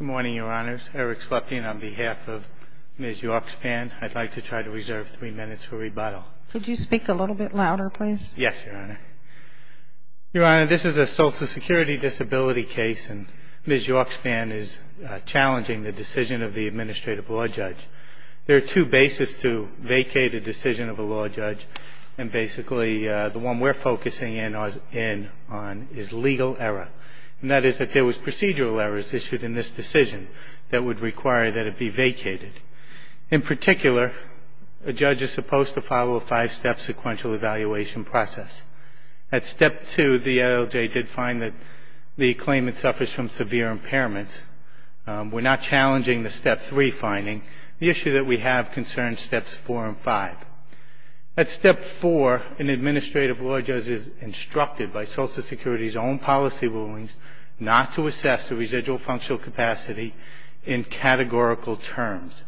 Good morning, Your Honors. Eric Sleptian on behalf of Ms. York-Spann. I'd like to try to reserve three minutes for rebuttal. Could you speak a little bit louder, please? Yes, Your Honor. Your Honor, this is a Social Security disability case, and Ms. York-Spann is challenging the decision of the administrative law judge. There are two bases to vacate a decision of a law judge, and basically the one we're focusing in on is legal error. And that is that there was procedural errors issued in this decision that would require that it be vacated. In particular, a judge is supposed to follow a five-step sequential evaluation process. At Step 2, the LLJ did find that the claimant suffers from severe impairments. We're not challenging the Step 3 finding. The issue that we have concerns Steps 4 and 5. At Step 4, an administrative law judge is instructed by Social Security's own policy rulings not to assess the residual functional capacity in categorical terms.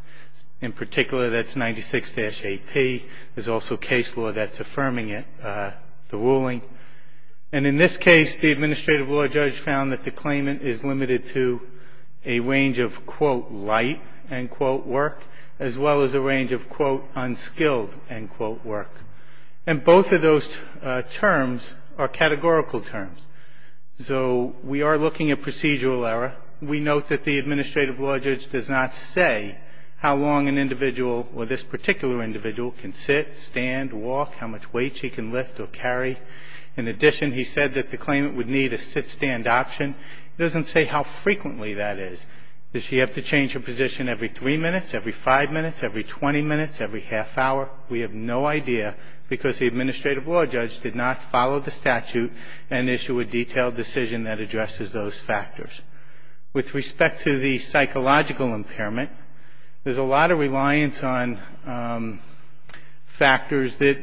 In particular, that's 96-8P. There's also case law that's affirming it, the ruling. And in this case, the administrative law judge found that the claimant is limited to a range of, quote, light, end quote, work, as well as a range of, quote, unskilled, end quote, work. And both of those terms are categorical terms. So we are looking at procedural error. We note that the administrative law judge does not say how long an individual or this particular individual can sit, stand, walk, how much weight she can lift or carry. In addition, he said that the claimant would need a sit-stand option. He doesn't say how frequently that is. Does she have to change her position every three minutes, every five minutes, every 20 minutes, every half hour? We have no idea, because the administrative law judge did not follow the statute and issue a detailed decision that addresses those factors. With respect to the psychological impairment, there's a lot of reliance on factors that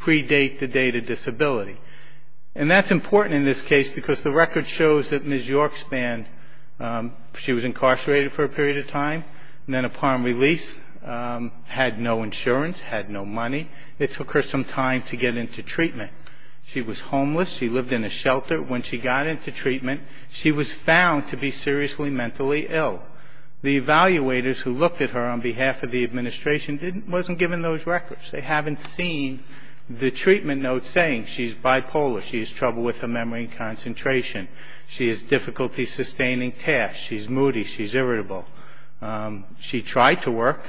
predate the date of disability. And that's important in this case, because the record shows that Ms. Yorkspan, she was incarcerated for a period of time, and then upon release had no insurance, had no money. It took her some time to get into treatment. She was homeless. She lived in a shelter. When she got into treatment, she was found to be seriously mentally ill. The evaluators who looked at her on behalf of the administration wasn't given those records. They haven't seen the treatment notes saying she's bipolar, she has trouble with her memory and concentration. She has difficulty sustaining tasks. She's moody. She's irritable. She tried to work,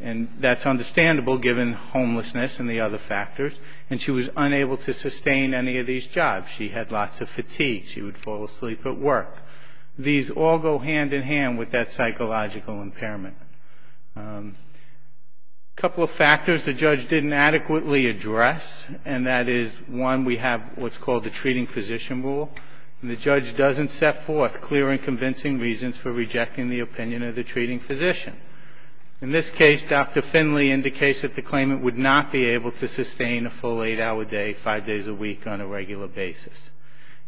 and that's understandable given homelessness and the other factors. And she was unable to sustain any of these jobs. She had lots of fatigue. She would fall asleep at work. These all go hand in hand with that psychological impairment. A couple of factors the judge didn't adequately address, and that is, one, we have what's called the treating physician rule. The judge doesn't set forth clear and convincing reasons for rejecting the opinion of the treating physician. In this case, Dr. Finley indicates that the claimant would not be able to sustain a full eight-hour day, five days a week, on a regular basis.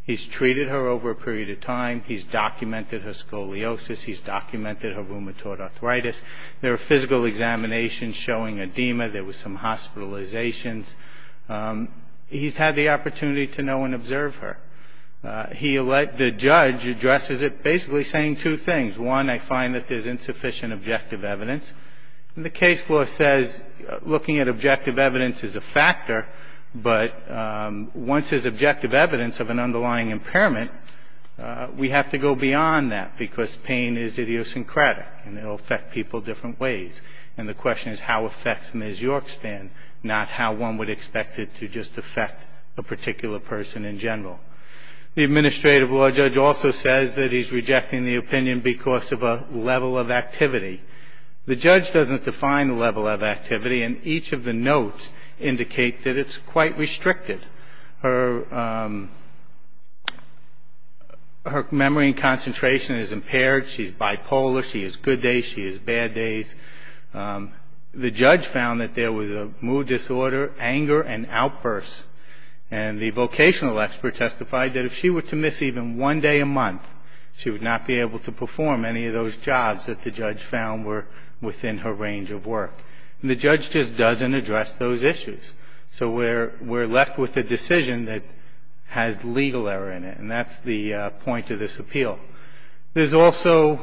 He's treated her over a period of time. He's documented her scoliosis. He's documented her rheumatoid arthritis. There are physical examinations showing edema. There was some hospitalizations. He's had the opportunity to know and observe her. The judge addresses it basically saying two things. One, I find that there's insufficient objective evidence. And the case law says looking at objective evidence is a factor, but once there's objective evidence of an underlying impairment, we have to go beyond that because pain is idiosyncratic and it will affect people different ways. And the question is how it affects Ms. Yorkstan, not how one would expect it to just affect a particular person in general. The administrative law judge also says that he's rejecting the opinion because of a level of activity. The judge doesn't define the level of activity, and each of the notes indicate that it's quite restricted. Her memory and concentration is impaired. She's bipolar. She has good days. She has bad days. The judge found that there was a mood disorder, anger, and outbursts. And the vocational expert testified that if she were to miss even one day a month, she would not be able to perform any of those jobs that the judge found were within her range of work. And the judge just doesn't address those issues. So we're left with a decision that has legal error in it, and that's the point of this appeal. There's also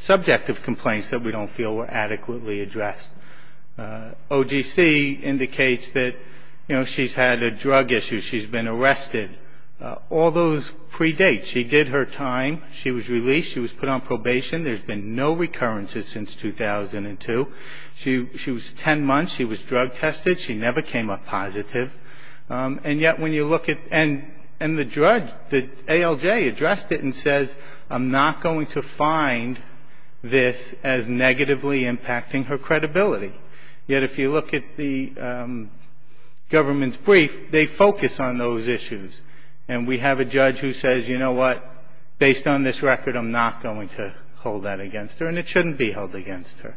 subjective complaints that we don't feel were adequately addressed. OGC indicates that, you know, she's had a drug issue. She's been arrested. All those predate. She did her time. She was released. She was put on probation. There's been no recurrences since 2002. She was 10 months. She was drug tested. She never came up positive. And yet when you look at the drug, the ALJ addressed it and says, I'm not going to find this as negatively impacting her credibility. Yet if you look at the government's brief, they focus on those issues. And we have a judge who says, you know what, based on this record, I'm not going to hold that against her, and it shouldn't be held against her.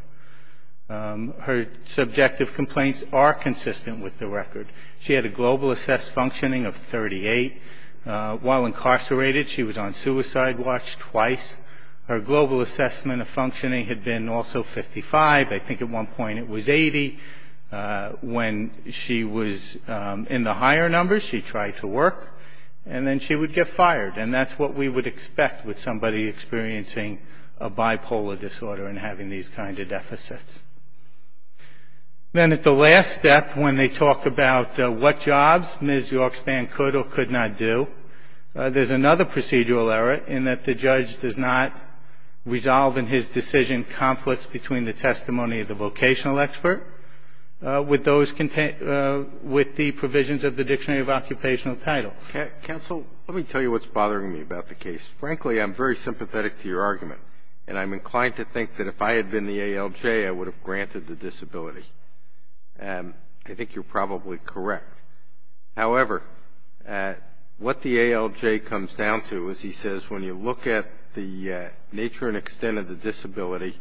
Her subjective complaints are consistent with the record. She had a global assessed functioning of 38. While incarcerated, she was on suicide watch twice. Her global assessment of functioning had been also 55. I think at one point it was 80. When she was in the higher numbers, she tried to work, and then she would get fired. And that's what we would expect with somebody experiencing a bipolar disorder and having these kinds of deficits. Then at the last step, when they talk about what jobs Ms. Yorkspan could or could not do, there's another procedural error in that the judge does not resolve in his decision conflicts between the testimony of the vocational expert with the provisions of the Dictionary of Occupational Titles. Counsel, let me tell you what's bothering me about the case. Frankly, I'm very sympathetic to your argument, and I'm inclined to think that if I had been the ALJ, I would have granted the disability. I think you're probably correct. However, what the ALJ comes down to is he says, when you look at the nature and extent of the disability,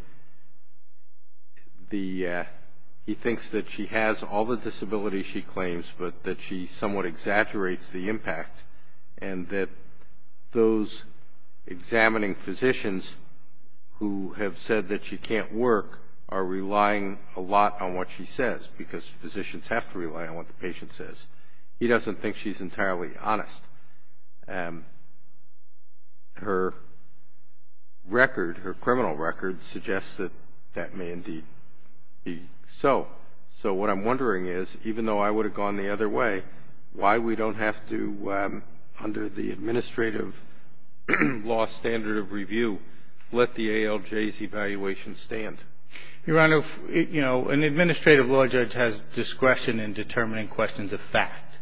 he thinks that she has all the disabilities she claims, but that she somewhat exaggerates the impact, and that those examining physicians who have said that she can't work are relying a lot on what she says, because physicians have to rely on what the patient says. He doesn't think she's entirely honest. Her record, her criminal record, suggests that that may indeed be so. So what I'm wondering is, even though I would have gone the other way, why we don't have to, under the administrative law standard of review, let the ALJ's evaluation stand. Your Honor, an administrative law judge has discretion in determining questions of fact,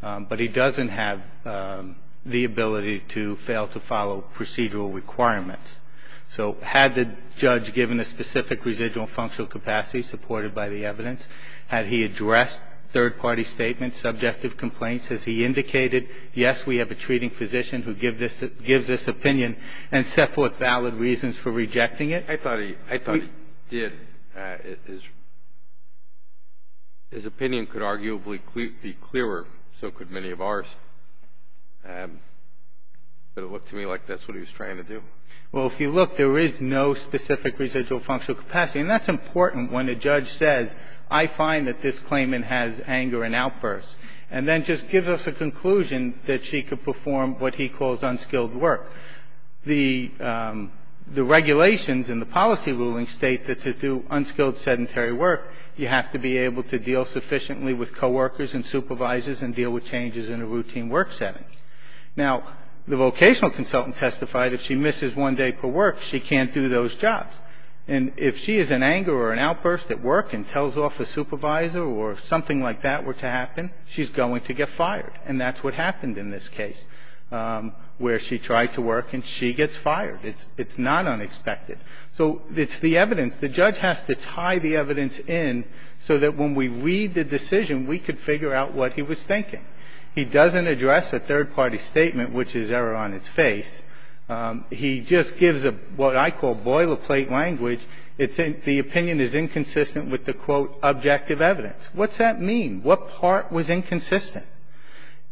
but he doesn't have the ability to fail to follow procedural requirements. So had the judge given a specific residual functional capacity supported by the evidence? Had he addressed third-party statements, subjective complaints? Has he indicated, yes, we have a treating physician who gives this opinion and set forth valid reasons for rejecting it? I thought he did. His opinion could arguably be clearer, so could many of ours. But it looked to me like that's what he was trying to do. Well, if you look, there is no specific residual functional capacity, and that's important when a judge says, I find that this claimant has anger and outbursts, and then just gives us a conclusion that she could perform what he calls unskilled work. The regulations and the policy rulings state that to do unskilled sedentary work, you have to be able to deal sufficiently with coworkers and supervisors and deal with changes in a routine work setting. Now, the vocational consultant testified if she misses one day per work, she can't do those jobs. And if she is in anger or an outburst at work and tells off a supervisor or something like that were to happen, she's going to get fired. And that's what happened in this case, where she tried to work and she gets fired. It's not unexpected. So it's the evidence. The judge has to tie the evidence in so that when we read the decision, we could figure out what he was thinking. He doesn't address a third-party statement, which is error on its face. He just gives what I call boilerplate language. The opinion is inconsistent with the, quote, objective evidence. What's that mean? What part was inconsistent?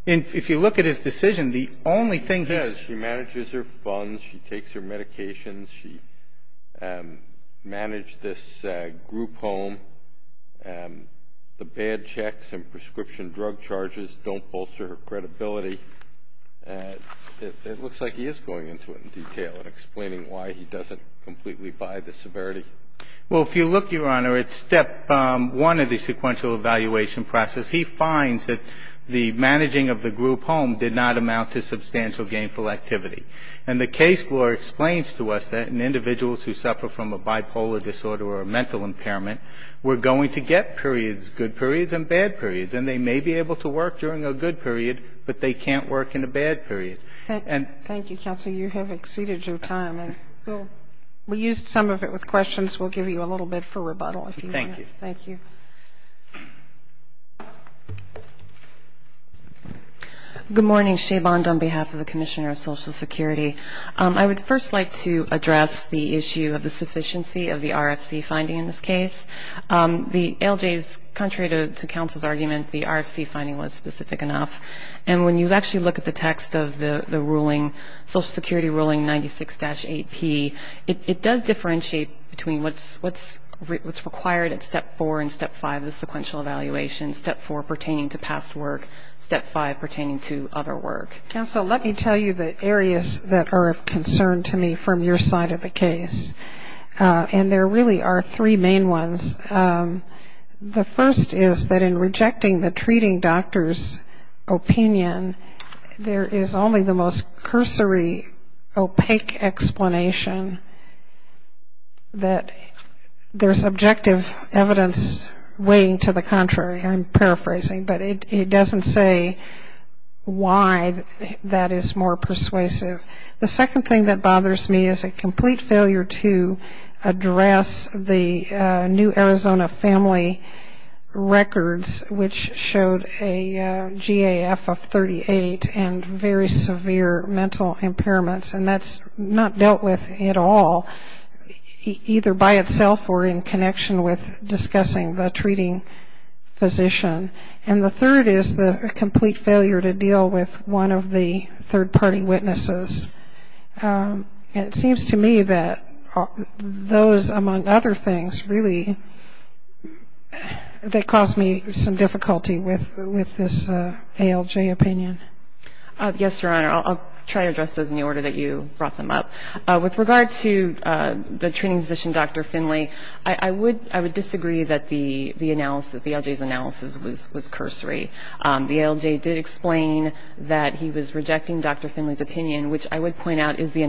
If you look at his decision, the only thing he's ---- She manages her funds. She takes her medications. She managed this group home. The bad checks and prescription drug charges don't bolster her credibility. It looks like he is going into it in detail and explaining why he doesn't completely buy the severity. Well, if you look, Your Honor, at step one of the sequential evaluation process, he finds that the managing of the group home did not amount to substantial gainful activity. And the case law explains to us that in individuals who suffer from a bipolar disorder or a mental impairment, we're going to get periods, good periods and bad periods. And they may be able to work during a good period, but they can't work in a bad period. And ---- Thank you, counsel. You have exceeded your time. We'll use some of it with questions. We'll give you a little bit for rebuttal if you want. Thank you. Thank you. Good morning. Shea Bond on behalf of the Commissioner of Social Security. I would first like to address the issue of the sufficiency of the RFC finding in this case. The LJs, contrary to counsel's argument, the RFC finding was specific enough. And when you actually look at the text of the ruling, Social Security ruling 96-8P, it does differentiate between what's required at Step 4 and Step 5 of the sequential evaluation, Step 4 pertaining to past work, Step 5 pertaining to other work. Counsel, let me tell you the areas that are of concern to me from your side of the case. And there really are three main ones. The first is that in rejecting the treating doctor's opinion, there is only the most cursory opaque explanation that there's objective evidence weighing to the contrary. I'm paraphrasing, but it doesn't say why that is more persuasive. The second thing that bothers me is a complete failure to address the new Arizona family records, which showed a GAF of 38 and very severe mental impairments. And that's not dealt with at all, either by itself or in connection with discussing the treating physician. And the third is the complete failure to deal with one of the third-party witnesses. And it seems to me that those, among other things, really, that caused me some difficulty with this ALJ opinion. Yes, Your Honor. I'll try to address those in the order that you brought them up. With regard to the treating physician, Dr. Finley, I would disagree that the analysis, the ALJ's analysis, was cursory. The ALJ did explain that he was rejecting Dr. Finley's opinion, which I would point out is the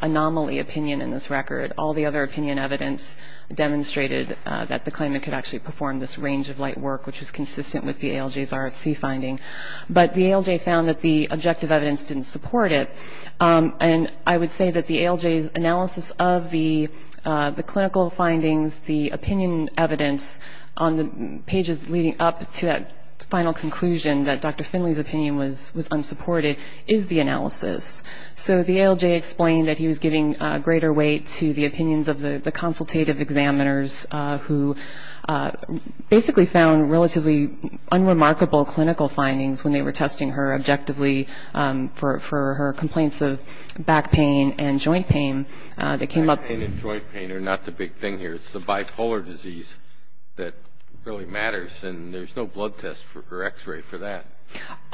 anomaly opinion in this record. All the other opinion evidence demonstrated that the claimant could actually perform this range of light work, which is consistent with the ALJ's RFC finding. But the ALJ found that the objective evidence didn't support it. And I would say that the ALJ's analysis of the clinical findings, the opinion evidence on the pages leading up to that final conclusion, that Dr. Finley's opinion was unsupported, is the analysis. So the ALJ explained that he was giving greater weight to the opinions of the consultative examiners who basically found relatively unremarkable clinical findings when they were testing her objectively for her complaints of back pain and joint pain that came up. Back pain and joint pain are not the big thing here. It's the bipolar disease that really matters. And there's no blood test or x-ray for that.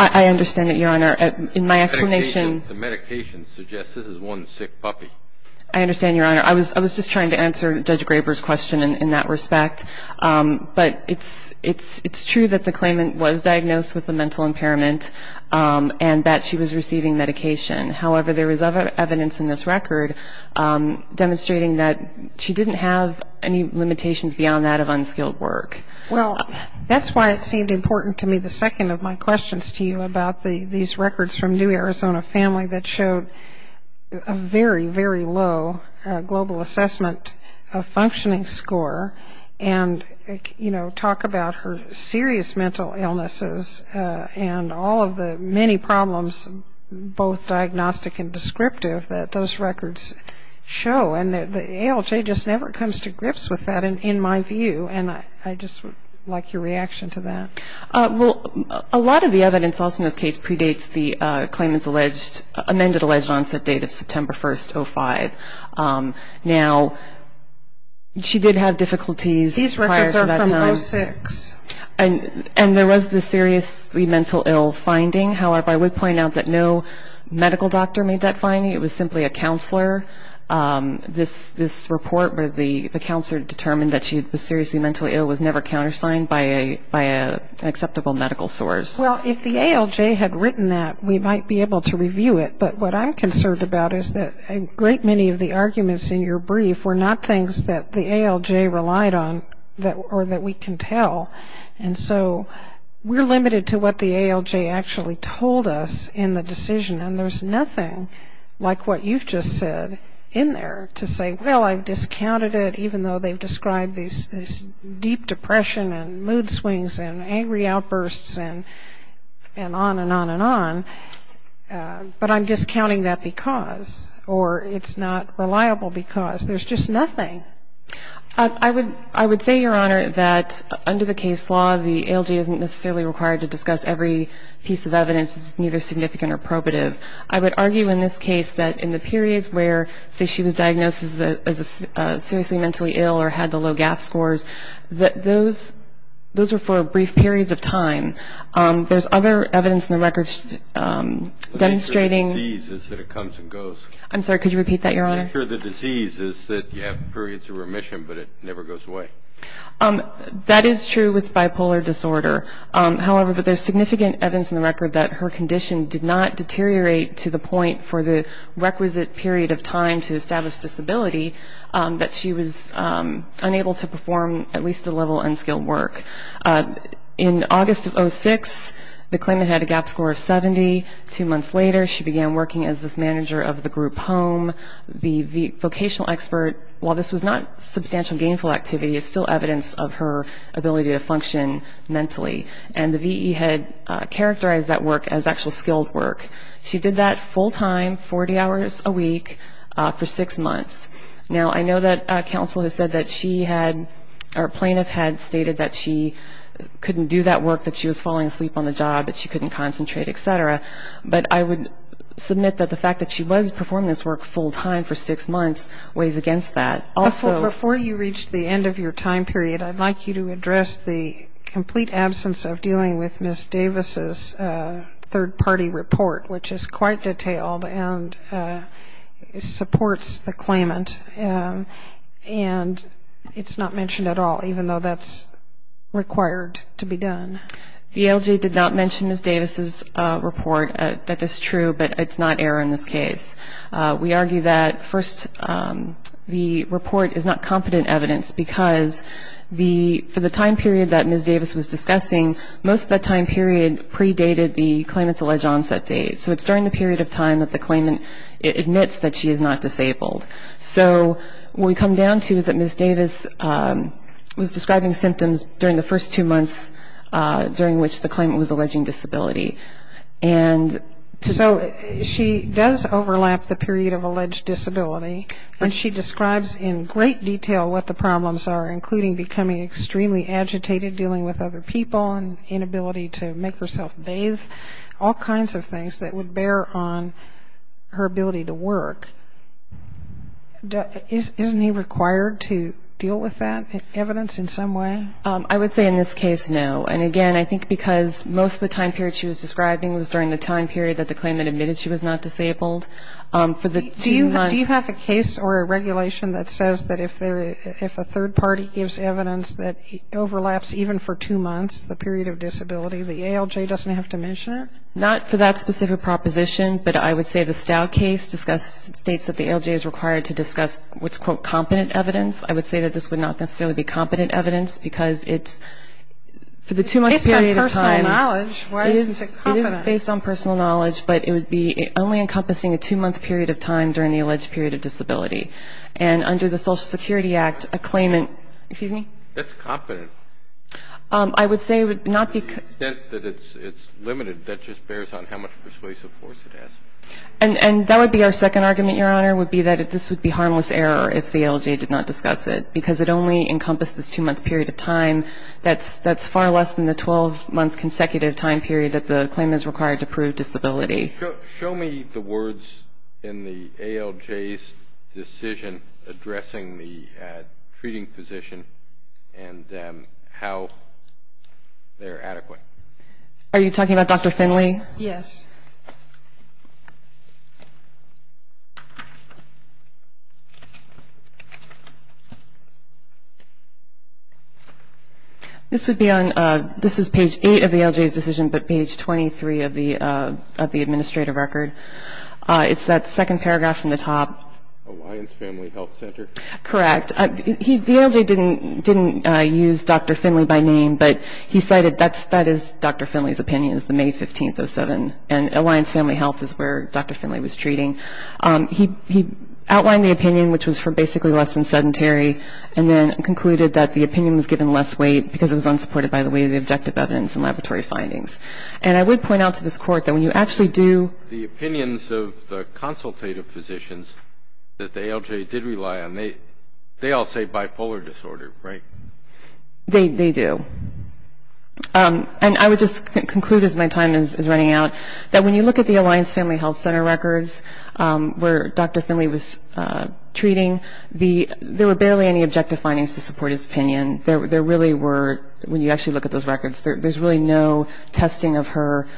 I understand that, Your Honor. In my explanation. The medication suggests this is one sick puppy. I understand, Your Honor. I was just trying to answer Judge Graber's question in that respect. But it's true that the claimant was diagnosed with a mental impairment and that she was receiving medication. However, there is other evidence in this record demonstrating that she didn't have any limitations beyond that of unskilled work. Well, that's why it seemed important to me, the second of my questions to you, about these records from New Arizona Family that showed a very, very low global assessment of functioning score and, you know, talk about her serious mental illnesses and all of the many problems, both diagnostic and descriptive, that those records show. And the ALJ just never comes to grips with that, in my view. And I just would like your reaction to that. Well, a lot of the evidence also in this case predates the claimant's amended alleged onset date of September 1st, 2005. Now, she did have difficulties prior to that time. And there was the seriously mental ill finding. However, I would point out that no medical doctor made that finding. It was simply a counselor. This report where the counselor determined that she was seriously mentally ill was never countersigned by an acceptable medical source. Well, if the ALJ had written that, we might be able to review it. But what I'm concerned about is that a great many of the arguments in your brief were not things that the ALJ relied on or that we can tell. And so we're limited to what the ALJ actually told us in the decision. And there's nothing like what you've just said in there to say, well, I've discounted it, even though they've described these deep depression and mood swings and angry outbursts and on and on and on. But I'm discounting that because or it's not reliable because. There's just nothing. I would say, Your Honor, that under the case law, the ALJ isn't necessarily required to discuss every piece of evidence that's neither significant or probative. I would argue in this case that in the periods where, say, she was diagnosed as seriously mentally ill or had the low gas scores, that those were for brief periods of time. There's other evidence in the records demonstrating. The nature of the disease is that it comes and goes. I'm sorry, could you repeat that, Your Honor? The nature of the disease is that you have periods of remission, but it never goes away. That is true with bipolar disorder, however, but there's significant evidence in the record that her condition did not deteriorate to the point for the requisite period of time to establish disability that she was unable to perform at least a level of unskilled work. In August of 06, the claimant had a gap score of 70. Two months later, she began working as this manager of the group home. The vocational expert, while this was not substantial gainful activity, it's still evidence of her ability to function mentally. And the VE had characterized that work as actual skilled work. She did that full time, 40 hours a week, for six months. Now, I know that counsel has said that she had or a plaintiff had stated that she couldn't do that work, that she was falling asleep on the job, that she couldn't concentrate, et cetera. But I would submit that the fact that she was performing this work full time for six months weighs against that. Also, before you reach the end of your time period, I'd like you to address the complete absence of dealing with Ms. Davis's third-party report, which is quite detailed and supports the claimant. And it's not mentioned at all, even though that's required to be done. The LG did not mention Ms. Davis's report. That is true, but it's not error in this case. We argue that, first, the report is not competent evidence because for the time period that Ms. Davis was discussing, most of that time period predated the claimant's alleged onset date. So it's during the period of time that the claimant admits that she is not disabled. So what we come down to is that Ms. Davis was describing symptoms during the first two months, during which the claimant was alleging disability. So she does overlap the period of alleged disability, and she describes in great detail what the problems are, including becoming extremely agitated, dealing with other people and inability to make herself bathe, all kinds of things that would bear on her ability to work. Isn't he required to deal with that evidence in some way? I would say in this case, no. And, again, I think because most of the time period she was describing was during the time period that the claimant admitted she was not disabled. Do you have a case or a regulation that says that if a third party gives evidence that overlaps even for two months, the period of disability, the ALJ doesn't have to mention it? Not for that specific proposition, but I would say the Stout case states that the ALJ is required to discuss what's, quote, competent evidence. I would say that this would not necessarily be competent evidence because it's for the two-month period of time. It's based on personal knowledge. Why isn't it competent? It is based on personal knowledge, but it would be only encompassing a two-month period of time during the alleged period of disability. That's competent. I would say it would not be. To the extent that it's limited, that just bears on how much persuasive force it has. And that would be our second argument, Your Honor, would be that this would be harmless error if the ALJ did not discuss it because it only encompassed this two-month period of time. That's far less than the 12-month consecutive time period that the claimant is required to prove disability. Show me the words in the ALJ's decision addressing the treating physician and how they're adequate. Are you talking about Dr. Finley? Yes. This is page 8 of the ALJ's decision, but page 23 of the administrative record. It's that second paragraph from the top. Alliance Family Health Center? Correct. The ALJ didn't use Dr. Finley by name, but he cited that as Dr. Finley's opinion, and Alliance Family Health is where Dr. Finley was treating. He outlined the opinion, which was for basically less than sedentary, and then concluded that the opinion was given less weight because it was unsupported by the weight of the objective evidence and laboratory findings. And I would point out to this Court that when you actually do The opinions of the consultative physicians that the ALJ did rely on, they all say bipolar disorder, right? They do. And I would just conclude as my time is running out, that when you look at the Alliance Family Health Center records where Dr. Finley was treating, there were barely any objective findings to support his opinion. There really were, when you actually look at those records, there's really no testing of her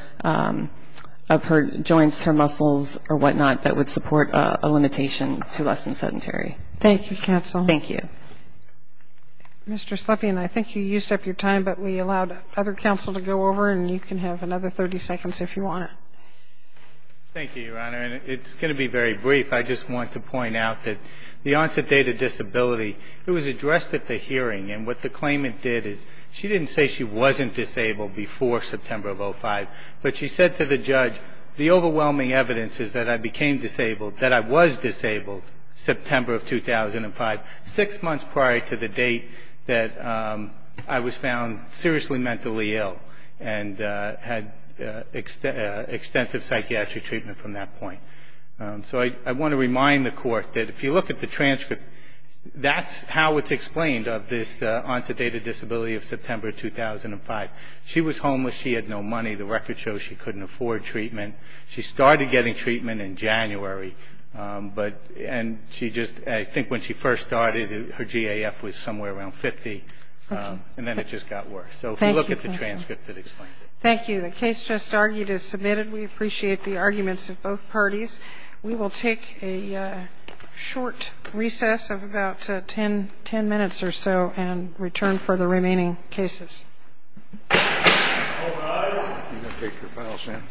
joints, her muscles, or whatnot, that would support a limitation to less than sedentary. Thank you, counsel. Thank you. Mr. Slepian, I think you used up your time, but we allowed other counsel to go over, and you can have another 30 seconds if you want. Thank you, Your Honor. And it's going to be very brief. I just want to point out that the onset date of disability, it was addressed at the hearing, and what the claimant did is she didn't say she wasn't disabled before September of 2005, but she said to the judge, the overwhelming evidence is that I became disabled, that I was disabled September of 2005, six months prior to the date that I was found seriously mentally ill and had extensive psychiatric treatment from that point. So I want to remind the Court that if you look at the transcript, that's how it's explained of this onset date of disability of September 2005. She was homeless. She had no money. The record shows she couldn't afford treatment. She started getting treatment in January, and she just, I think when she first started, her GAF was somewhere around 50, and then it just got worse. So if you look at the transcript, it explains it. Thank you. The case just argued is submitted. We appreciate the arguments of both parties. We will take a short recess of about 10 minutes or so and return for the remaining cases. All rise.